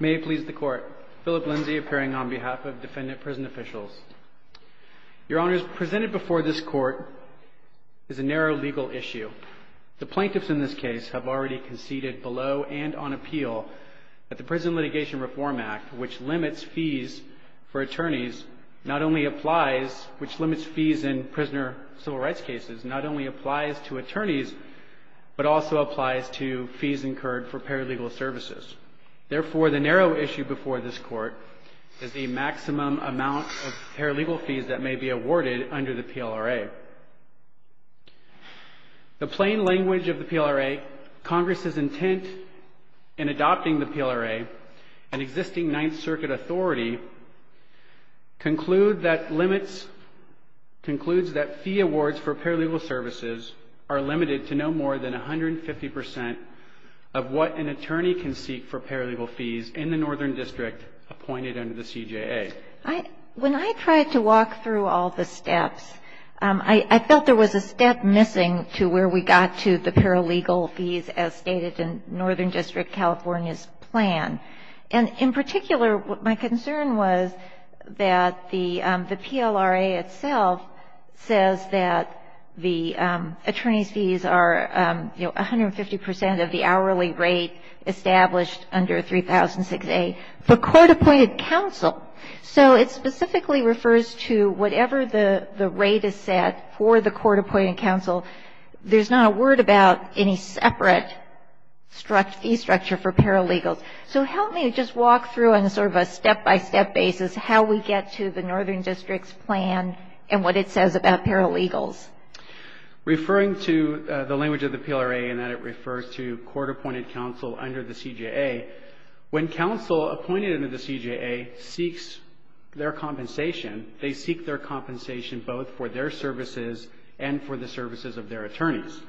May it please the Court, Philip Lindsay appearing on behalf of defendant prison officials. Your Honors, presented before this Court is a narrow legal issue. The plaintiffs in this case have already conceded below and on appeal that the Prison Litigation Reform Act, which limits fees for attorneys, not only applies which limits fees in prisoner civil rights cases, not only applies to attorneys but also applies to fees incurred for paralegal services. Therefore, the narrow issue before this Court is the maximum amount of paralegal fees that may be awarded under the PLRA. The plain language of the PLRA, Congress's intent in adopting the PLRA, and existing Ninth Circuit authority, concludes that fee awards for paralegal services are limited to no more than 150% of what an attorney can seek for paralegal fees in the Northern District appointed under the CJA. When I tried to walk through all the steps, I felt there was a step missing to where we got to the paralegal fees as stated in Northern District California's plan. And in particular, my concern was that the PLRA itself says that the attorney's fees are, you know, 150% of the hourly rate established under 3006A for court-appointed counsel. So it specifically refers to whatever the rate is set for the court-appointed counsel. There's not a word about any separate fee structure for paralegals. So help me just walk through on sort of a step-by-step basis how we get to the Northern District's plan and what it says about paralegals. Referring to the language of the PLRA in that it refers to court-appointed counsel under the CJA, when counsel appointed under the CJA seeks their compensation, they seek their compensation both for their services and for the services of their attorneys.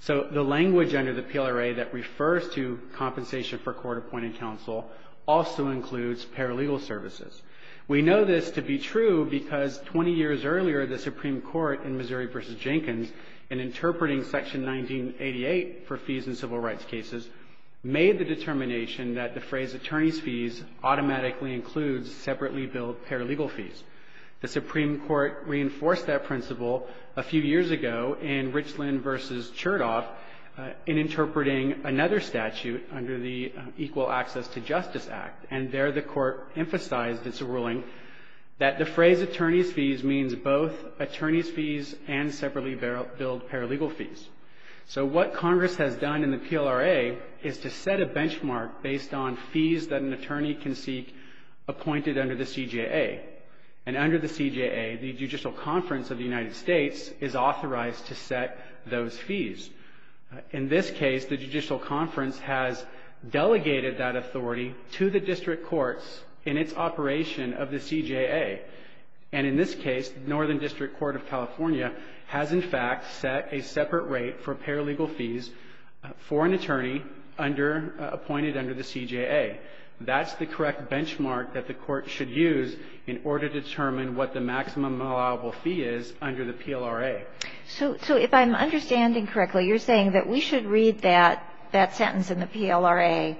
So the language under the PLRA that refers to compensation for court-appointed counsel also includes paralegal services. We know this to be true because 20 years earlier, the Supreme Court in Missouri v. Jenkins in interpreting Section 1988 for fees in civil rights cases made the determination that the phrase attorney's fees automatically includes separately billed paralegal fees. The Supreme Court reinforced that principle a few years ago in Richland v. Chertoff in interpreting another statute under the Equal Access to Justice Act, and there the Court emphasized its ruling that the phrase attorney's fees means both attorney's fees and separately billed paralegal fees. So what Congress has done in the PLRA is to set a benchmark based on fees that an attorney can seek appointed under the CJA. And under the CJA, the Judicial Conference of the United States is authorized to set those fees. In this case, the Judicial Conference has delegated that authority to the district courts in its operation of the CJA. And in this case, Northern District Court of California has, in fact, set a separate rate for paralegal fees for an attorney under, appointed under the CJA. That's the correct benchmark that the Court should use in order to determine what the maximum allowable fee is under the PLRA. So if I'm understanding correctly, you're saying that we should read that sentence in the PLRA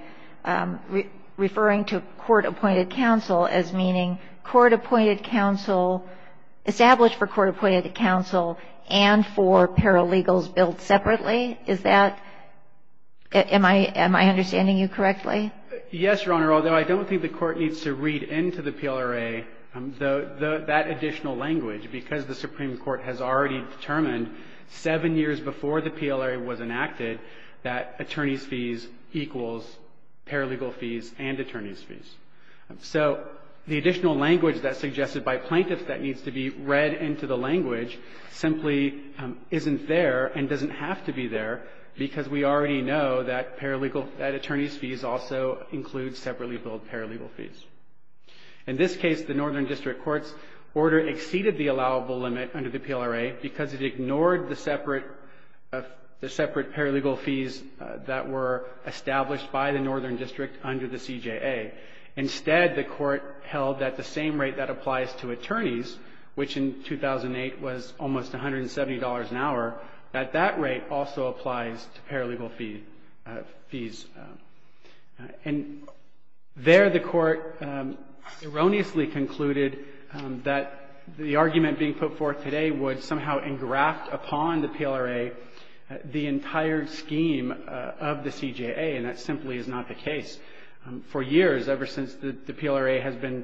referring to court-appointed counsel as meaning court-appointed counsel, established for court-appointed counsel and for paralegals billed separately? Is that — am I understanding you correctly? Yes, Your Honor, although I don't think the Court needs to read into the PLRA that additional language, because the Supreme Court has already determined seven years before the PLRA was enacted that attorney's fees equals paralegal fees and attorney's fees. So the additional language that's suggested by plaintiffs that needs to be read into the language simply isn't there and doesn't have to be there, because we already know that paralegal — that attorney's fees also include separately billed paralegal fees. In this case, the Northern District Court's order exceeded the allowable limit under the PLRA because it ignored the separate — the separate paralegal fees that were held at the same rate that applies to attorneys, which in 2008 was almost $170 an hour. At that rate also applies to paralegal fees. And there the Court erroneously concluded that the argument being put forth today would somehow engraft upon the PLRA the entire scheme of the CJA, and that simply is not the case. For years, ever since the PLRA has been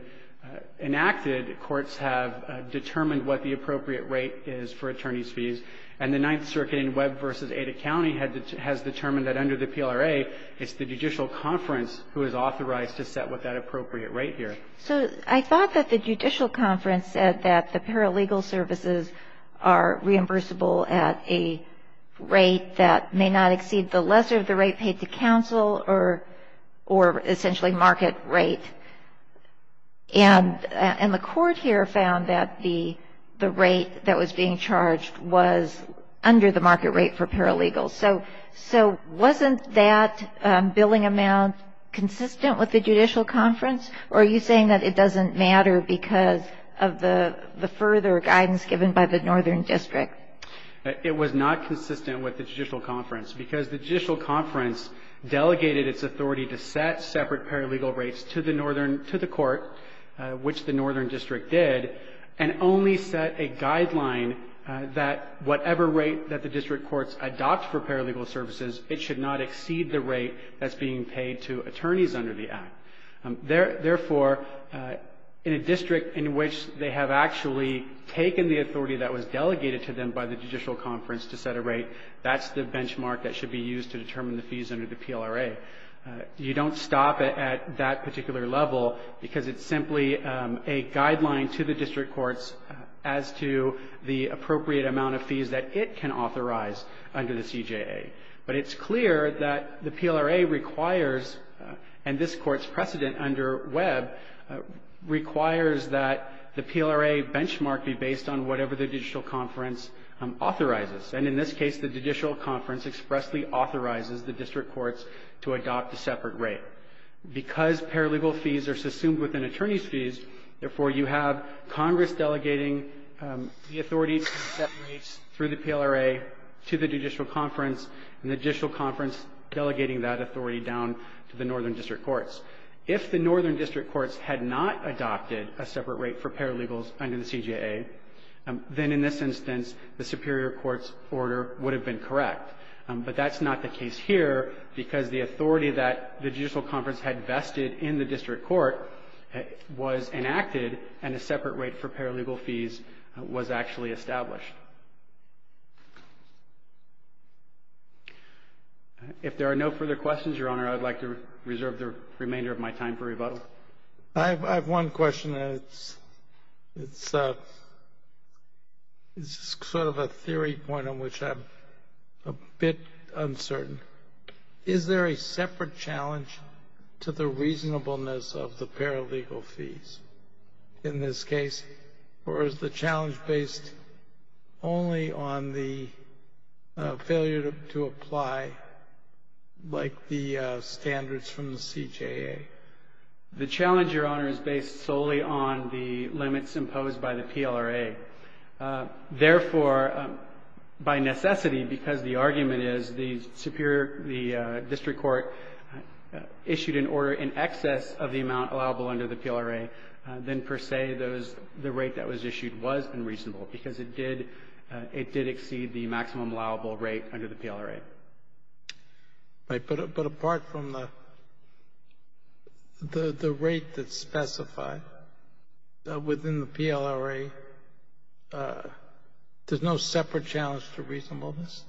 enacted, courts have determined what the appropriate rate is for attorney's fees. And the Ninth Circuit in Webb v. Ada County has determined that under the PLRA, it's the judicial conference who is authorized to set what that appropriate rate here. So I thought that the judicial conference said that the paralegal services are reimbursable at a rate that may not exceed the lesser of the rate paid to counsel or essentially market rate. And the Court here found that the rate that was being charged was under the market rate for paralegals. So wasn't that billing amount consistent with the judicial conference? Or are you saying that it doesn't matter because of the further guidance given by the Northern District? It was not consistent with the judicial conference because the judicial conference delegated its authority to set separate paralegal rates to the Court, which the Northern District did, and only set a guideline that whatever rate that the district courts adopt for paralegal services, it should not exceed the rate that's being paid to attorneys under the Act. Therefore, in a district in which they have actually taken the authority that was delegated to them by the judicial conference to set a rate, that's the benchmark that should be used to determine the fees under the PLRA. You don't stop it at that particular level because it's simply a guideline to the district courts as to the appropriate amount of fees that it can authorize under the CJA. But it's clear that the PLRA requires, and this Court's precedent under Webb requires that the PLRA benchmark be based on whatever the judicial conference authorizes. And in this case, the judicial conference expressly authorizes the district courts to adopt a separate rate. Because paralegal fees are assumed within attorney's fees, therefore, you have Congress delegating the authority to set rates through the PLRA to the judicial conference and the judicial conference delegating that authority down to the Northern District courts. If the Northern District courts had not adopted a separate rate for paralegals under the CJA, then in this instance, the superior court's order would have been correct. But that's not the case here because the authority that the judicial conference had vested in the district court was enacted and a separate rate for paralegal fees was actually established. If there are no further questions, Your Honor, I would like to reserve the remaining remainder of my time for rebuttal. I have one question. It's sort of a theory point on which I'm a bit uncertain. Is there a separate challenge to the reasonableness of the paralegal fees in this case, or is the challenge based only on the failure to apply like the standards from the CJA? The challenge, Your Honor, is based solely on the limits imposed by the PLRA. Therefore, by necessity, because the argument is the superior the district court issued an order in excess of the amount allowable under the PLRA, then per se, the rate that was issued was unreasonable because it did exceed the maximum allowable rate under the PLRA. Right. But apart from the rate that's specified within the PLRA, there's no separate challenge to reasonableness?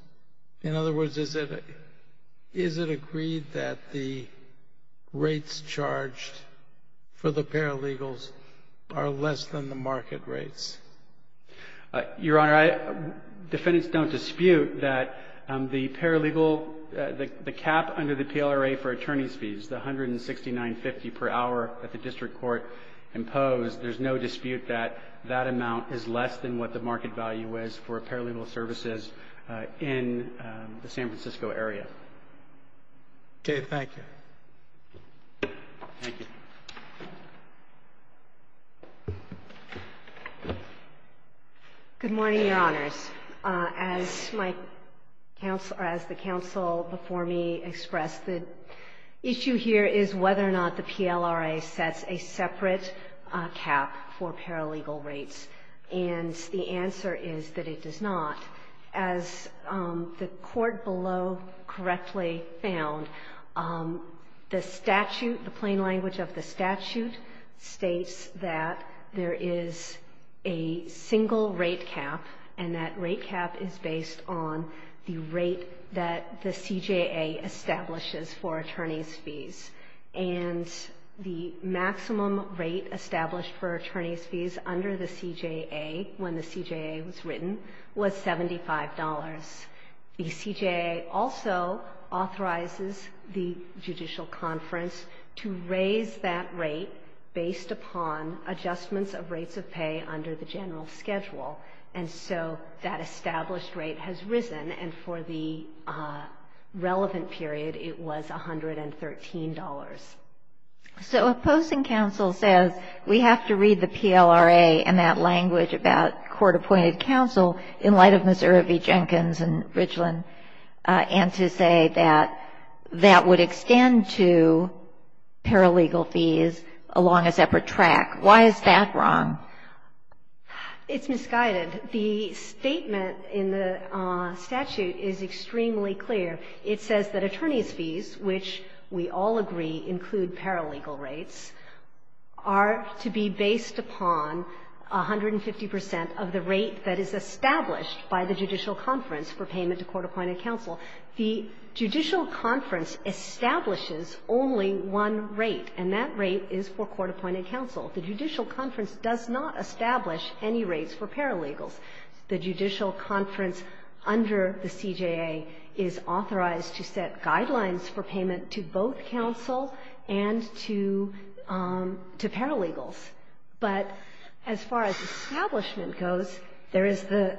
In other words, is it agreed that the rates charged for the paralegals are less than the market rates? Your Honor, defendants don't dispute that the paralegal, the cap under the PLRA for attorney's fees, the $169.50 per hour that the district court imposed, there's no dispute that that amount is less than what the market value is for paralegal services in the San Francisco area. Okay. Thank you. Thank you. Good morning, Your Honors. As the counsel before me expressed, the issue here is whether or not the PLRA sets a separate cap for paralegal rates. And the answer is that it does not. As the Court below correctly found, the statute, the plain language of the statute states that there is a single rate cap, and that rate cap is based on the rate that the CJA establishes for attorney's fees. And the maximum rate established for attorney's fees under the CJA when the CJA was written was $75. The CJA also authorizes the judicial conference to raise that rate based upon adjustments of rates of pay under the general schedule. And so that established rate has risen, and for the relevant period, it was $113. So opposing counsel says we have to read the PLRA and that language about court appointed counsel in light of Ms. Irvie Jenkins and Richland, and to say that that would extend to paralegal fees along a separate track. Why is that wrong? It's misguided. The statement in the statute is extremely clear. It says that attorney's fees, which we all agree include paralegal rates, are to be based upon 150 percent of the rate that is established by the judicial conference for payment to court-appointed counsel. The judicial conference establishes only one rate, and that rate is for court-appointed counsel. The judicial conference does not establish any rates for paralegals. The judicial conference under the CJA is authorized to set guidelines for payment to both counsel and to paralegals. But as far as establishment goes, there is the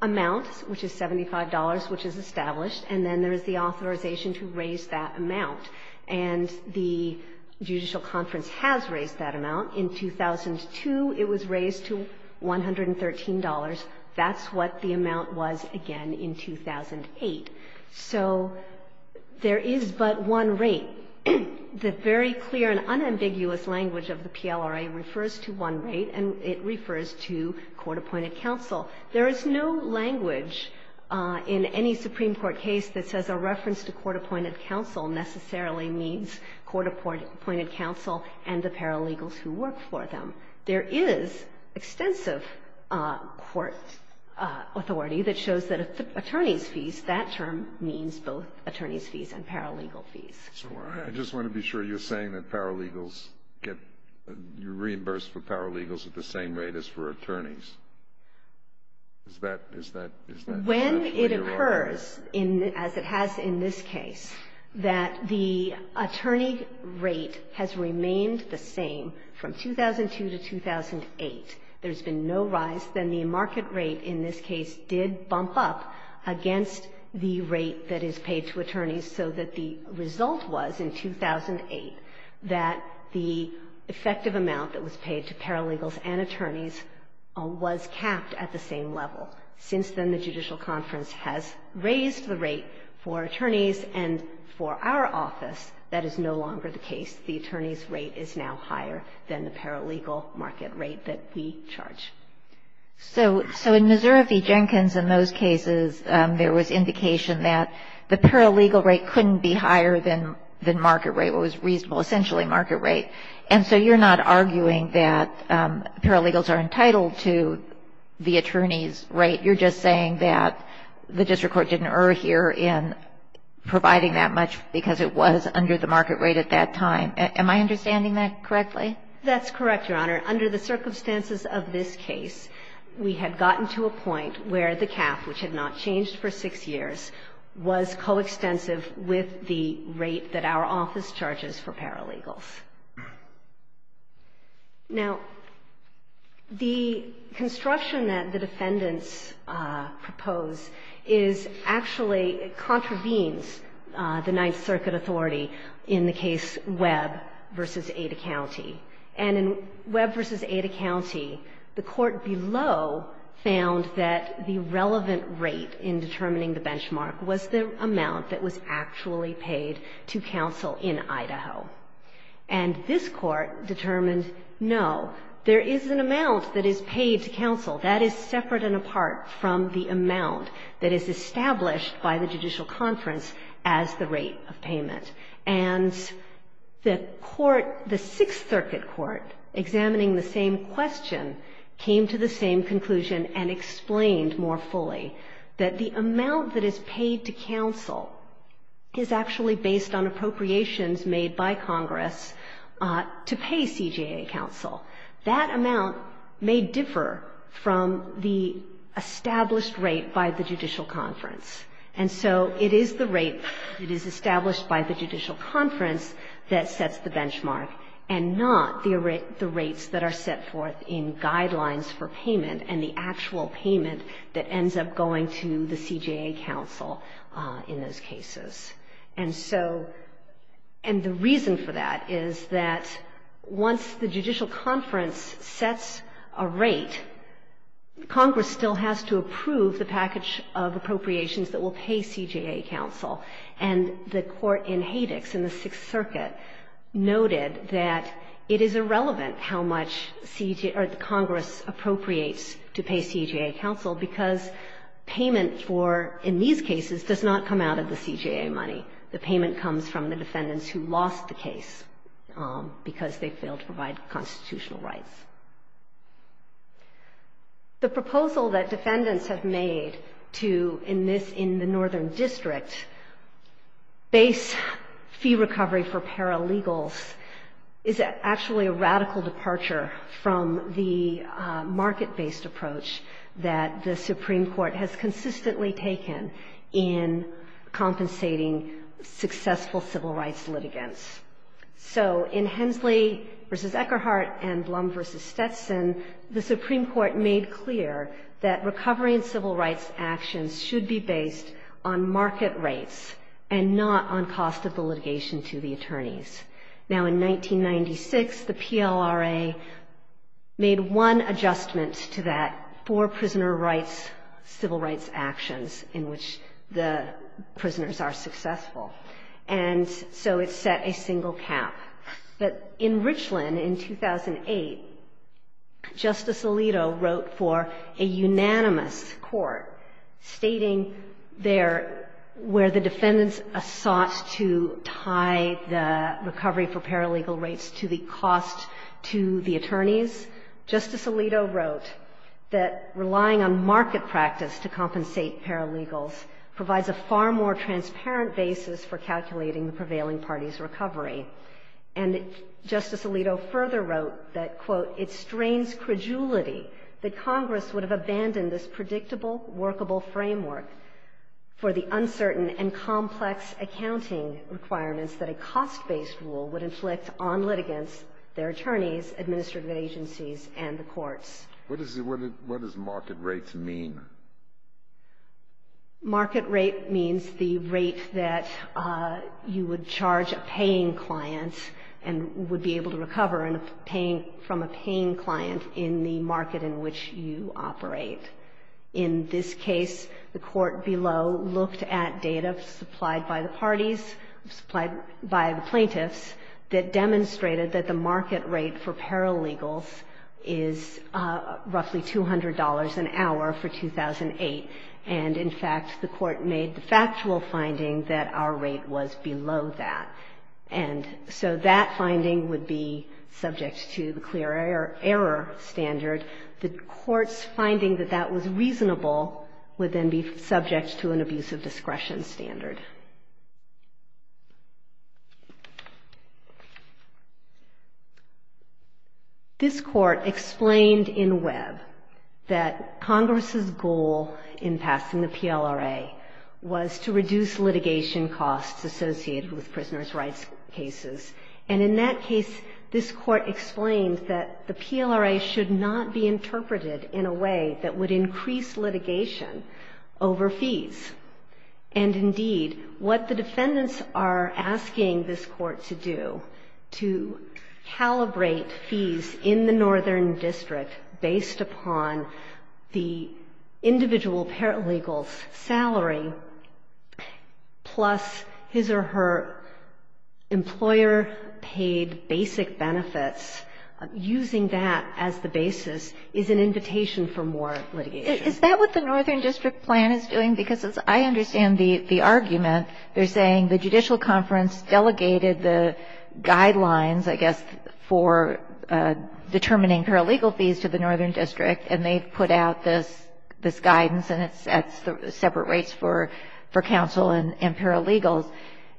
amount, which is $75, which is established, and then there is the authorization to raise that amount. And the judicial conference has raised that amount. In 2002, it was raised to $113. That's what the amount was again in 2008. So there is but one rate. The very clear and unambiguous language of the PLRA refers to one rate, and it refers to court-appointed counsel. There is no language in any Supreme Court case that says a reference to court-appointed counsel necessarily means court-appointed counsel and the paralegals who work for them. There is extensive court authority that shows that attorneys' fees, that term means both attorneys' fees and paralegal fees. So I just want to be sure you're saying that paralegals get reimbursed for paralegals at the same rate as for attorneys. Is that what you're arguing? It occurs, as it has in this case, that the attorney rate has remained the same from 2002 to 2008. There has been no rise. Then the market rate in this case did bump up against the rate that is paid to attorneys, so that the result was in 2008 that the effective amount that was paid to paralegals and attorneys was capped at the same level. Since then, the Judicial Conference has raised the rate for attorneys and for our office that is no longer the case. The attorney's rate is now higher than the paralegal market rate that we charge. So in Missouri v. Jenkins, in those cases, there was indication that the paralegal rate couldn't be higher than market rate, what was reasonable, essentially, market rate. And so you're not arguing that paralegals are entitled to the attorney's rate. You're just saying that the district court didn't err here in providing that much because it was under the market rate at that time. Am I understanding that correctly? That's correct, Your Honor. Under the circumstances of this case, we had gotten to a point where the cap, which had not changed for six years, was coextensive with the rate that our office charges for paralegals. Now, the construction that the defendants propose is actually, it contravenes the Ninth Circuit authority in the case Webb v. Ada County. And in Webb v. Ada County, the court below found that the relevant rate in determining the benchmark was the amount that was actually paid to counsel in Idaho. And this court determined, no, there is an amount that is paid to counsel. That is separate and apart from the amount that is established by the judicial conference as the rate of payment. And the court, the Sixth Circuit Court, examining the same question, came to the same conclusion that the amount that is paid to counsel is actually based on appropriations made by Congress to pay CJA counsel. That amount may differ from the established rate by the judicial conference. And so it is the rate that is established by the judicial conference that sets the benchmark and not the rates that are set forth in guidelines for payment and the actual payment that ends up going to the CJA counsel in those cases. And so, and the reason for that is that once the judicial conference sets a rate, Congress still has to approve the package of appropriations that will pay CJA counsel. And the court in Hadex in the Sixth Circuit noted that it is irrelevant how much CJA, or Congress appropriates to pay CJA counsel because payment for, in these cases, does not come out of the CJA money. The payment comes from the defendants who lost the case because they failed to provide constitutional rights. The proposal that defendants have made to, in this, in the Northern District, base fee recovery for paralegals is actually a radical departure from the market-based approach that the Supreme Court has consistently taken in compensating successful civil rights litigants. So in Hensley v. Eckerhart and Blum v. Stetson, the Supreme Court made clear that recovery and civil rights actions should be based on market rates and not on cost of the litigation to the attorneys. Now, in 1996, the PLRA made one adjustment to that for prisoner rights civil rights actions in which the prisoners are successful. And so it set a single cap. But in Richland in 2008, Justice Alito wrote for a unanimous court stating there where the defendants sought to tie the recovery for paralegal rates to the cost to the attorneys, Justice Alito wrote that relying on market practice to compensate paralegals provides a far more transparent basis for calculating the prevailing party's recovery. And Justice Alito further wrote that, quote, it strains credulity that Congress would have abandoned this predictable, workable framework for the uncertain and complex accounting requirements that a cost-based rule would inflict on litigants, their attorneys, administrative agencies, and the courts. What does market rates mean? Market rate means the rate that you would charge a paying client and would be able to operate. In this case, the court below looked at data supplied by the parties, supplied by the plaintiffs, that demonstrated that the market rate for paralegals is roughly $200 an hour for 2008. And, in fact, the court made the factual finding that our rate was below that. And so that finding would be subject to the clear error standard. The court's finding that that was reasonable would then be subject to an abusive discretion standard. This court explained in Webb that Congress's goal in passing the PLRA was to reduce litigation costs associated with prisoners' rights cases. And in that case, this court explained that the PLRA should not be interpreted in a way that would increase litigation over fees. And, indeed, what the defendants are asking this court to do, to calibrate fees in the northern district based upon the individual paralegal's salary plus his or her employer's basic benefits, using that as the basis, is an invitation for more litigation. Is that what the northern district plan is doing? Because as I understand the argument, they're saying the judicial conference delegated the guidelines, I guess, for determining paralegal fees to the northern district, and they put out this guidance, and it sets separate rates for counsel and paralegals.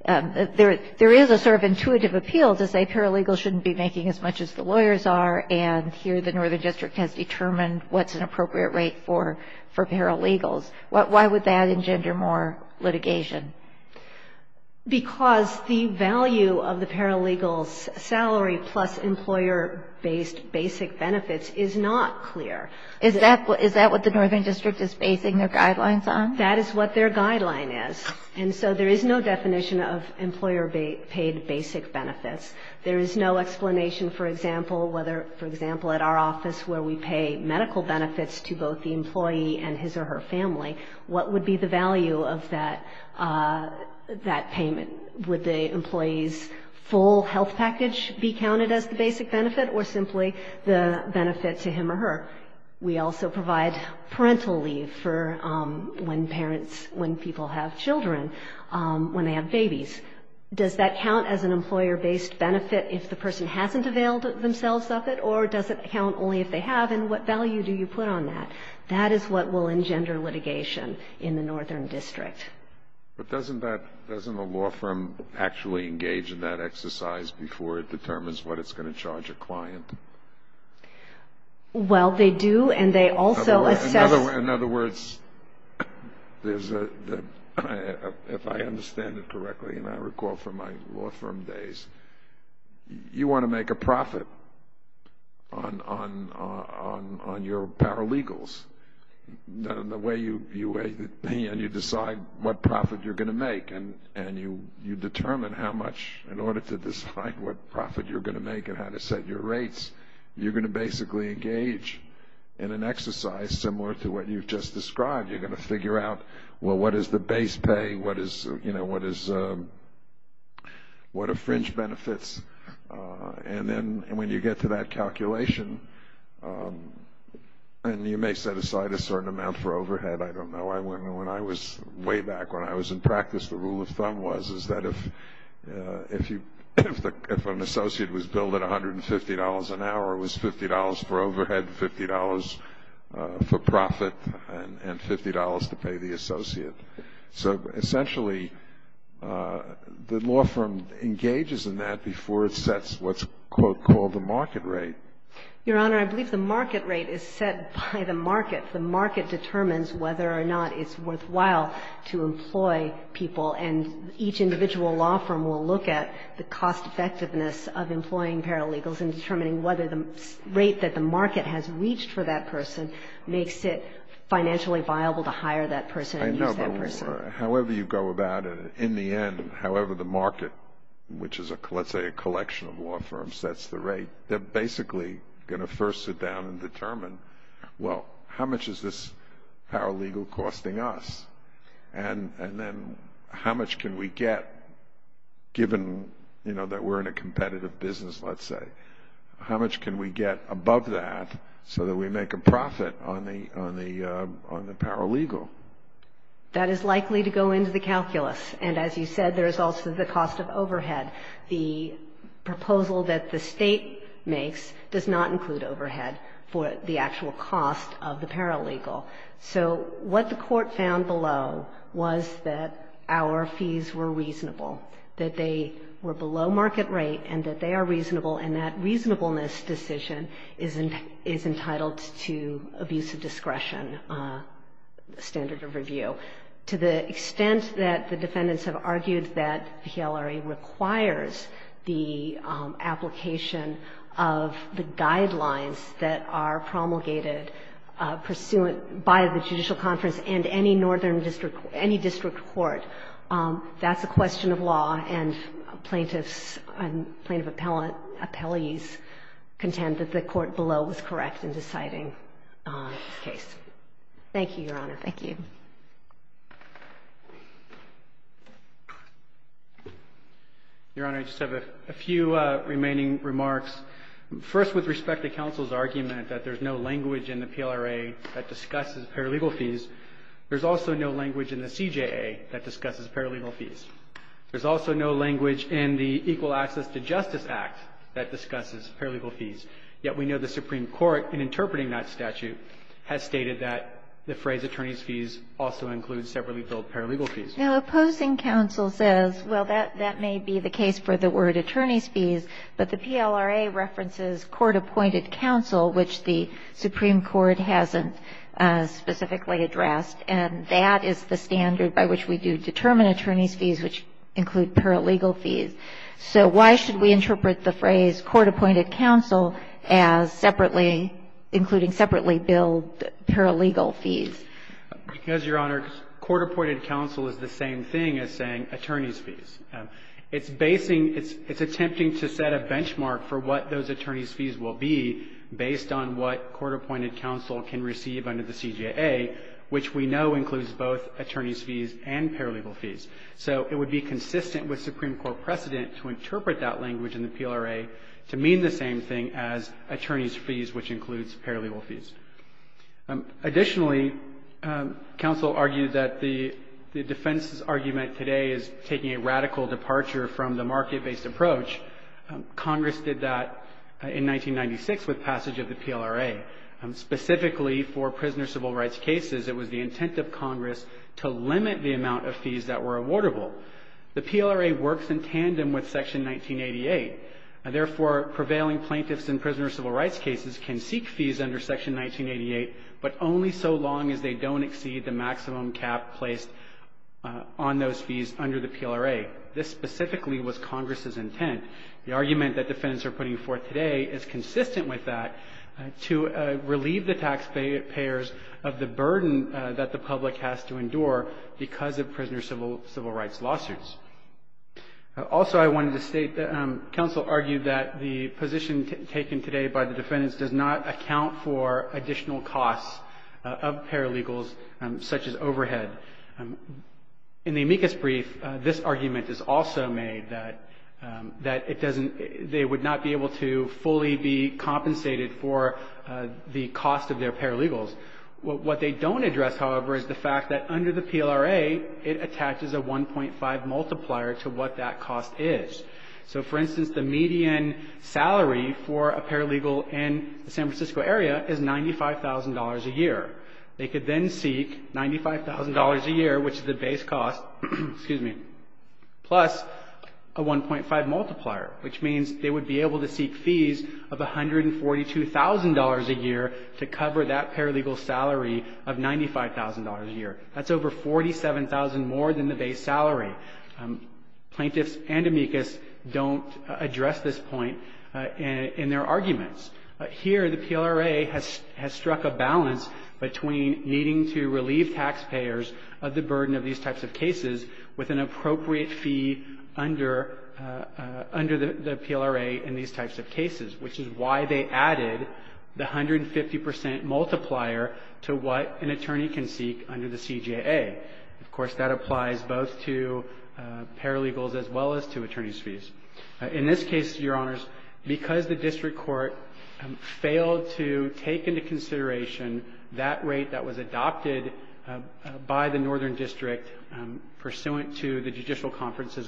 There is a sort of intuitive appeal to say paralegals shouldn't be making as much as the lawyers are, and here the northern district has determined what's an appropriate rate for paralegals. Why would that engender more litigation? Because the value of the paralegal's salary plus employer-based basic benefits is not clear. Is that what the northern district is basing their guidelines on? That is what their guideline is. And so there is no definition of employer-paid basic benefits. There is no explanation, for example, whether, for example, at our office where we pay medical benefits to both the employee and his or her family, what would be the value of that payment? Would the employee's full health package be counted as the basic benefit or simply the benefit to him or her? We also provide parental leave for when parents, when people have children, when they have babies. Does that count as an employer-based benefit if the person hasn't availed themselves of it, or does it count only if they have, and what value do you put on that? That is what will engender litigation in the northern district. But doesn't that, doesn't the law firm actually engage in that exercise before it determines what it's going to charge a client? Well, they do, and they also assess... In other words, if I understand it correctly, and I recall from my law firm days, you want to make a profit on your paralegals. The way you weigh the pay and you decide what profit you're going to make, and you determine how much in order to decide what profit you're going to make and how to set your rates, you're going to basically engage in an exercise similar to what you've just described. You're going to figure out, well, what is the base pay? What are fringe benefits? And then when you get to that calculation, and you may set aside a certain amount for overhead. I don't know. Way back when I was in practice, the rule of thumb was that if an associate was billed at $150 an hour, it was $50 for overhead, $50 for profit, and $50 to pay the associate. So essentially, the law firm engages in that before it sets what's called the market rate. Your Honor, I believe the market rate is set by the market. The market determines whether or not it's worthwhile to employ people, and each individual law firm will look at the cost effectiveness of employing paralegals and determining whether the rate that the market has reached for that person makes it financially viable to hire that person and use that person. I know, but however you go about it, in the end, however the market, which is, let's say, a collection of law firms, sets the rate, they're basically going to first sit down and determine, well, how much is this paralegal costing us, and then how much can we get given, you know, that we're in a competitive business, let's say. How much can we get above that so that we make a profit on the paralegal? That is likely to go into the calculus, and as you said, there is also the cost of overhead. The proposal that the State makes does not include overhead for the actual cost of the paralegal. So what the Court found below was that our fees were reasonable, that they were below market rate, and that they are reasonable, and that reasonableness decision is entitled to abusive discretion standard of review. To the extent that the defendants have argued that PLRA requires the application of the guidelines that are promulgated pursuant by the Judicial Conference and any northern district, any district court, that's a question of law, and plaintiffs and plaintiff appellees contend that the court below was correct in deciding this case. Thank you, Your Honor. Thank you. Your Honor, I just have a few remaining remarks. First, with respect to counsel's argument that there's no language in the PLRA that discusses paralegal fees, there's also no language in the CJA that discusses paralegal fees. There's also no language in the Equal Access to Justice Act that discusses paralegal fees, yet we know the Supreme Court, in interpreting that statute, has stated that the phrase attorney's fees also includes separately billed paralegal fees. Now, opposing counsel says, well, that may be the case for the word attorney's fees, but the PLRA references court-appointed counsel, which the Supreme Court hasn't specifically addressed, and that is the standard by which we do determine attorney's fees, which include paralegal fees. So why should we interpret the phrase court-appointed counsel as separately billed paralegal fees? Because, Your Honor, court-appointed counsel is the same thing as saying attorney's fees. It's basing – it's attempting to set a benchmark for what those attorney's fees will be based on what court-appointed counsel can receive under the CJA, which we know includes both attorney's fees and paralegal fees. So it would be consistent with Supreme Court precedent to interpret that language in the PLRA to mean the same thing as attorney's fees, which includes paralegal fees. Additionally, counsel argued that the defense's argument today is taking a radical departure from the market-based approach. Congress did that in 1996 with passage of the PLRA. Specifically for prisoner's civil rights cases, it was the intent of Congress to limit the amount of fees that were awardable. The PLRA works in tandem with Section 1988. Therefore, prevailing plaintiffs in prisoner's civil rights cases can seek fees under Section 1988, but only so long as they don't exceed the maximum cap placed on those fees under the PLRA. This specifically was Congress's intent. The argument that defendants are putting forth today is consistent with that, to relieve the taxpayers of the burden that the public has to endure because of prisoner's civil rights lawsuits. Also, I wanted to state that counsel argued that the position taken today by the defendants does not account for additional costs of paralegals, such as overhead. In the amicus brief, this argument is also made, that it doesn't they would not be able to fully be compensated for the cost of their paralegals. What they don't address, however, is the fact that under the PLRA, it attaches a 1.5 multiplier to what that cost is. So, for instance, the median salary for a paralegal in the San Francisco area is $95,000 a year. They could then seek $95,000 a year, which is the base cost, excuse me, plus a 1.5 multiplier, which means they would be able to seek fees of $142,000 a year to cover that paralegal's salary of $95,000 a year. That's over $47,000 more than the base salary. Plaintiffs and amicus don't address this point in their arguments. Here, the PLRA has struck a balance between needing to relieve taxpayers of the burden of these types of cases with an appropriate fee under the PLRA in these types of cases, which is why they added the 150 percent multiplier to what an attorney can seek under the CJA. Of course, that applies both to paralegals as well as to attorneys' fees. In this case, Your Honors, because the district court failed to take into consideration that rate that was adopted by the Northern District pursuant to the Judicial Conference's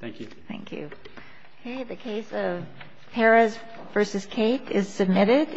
Thank you. Thank you. Okay. The case of Perez v. Kate is submitted.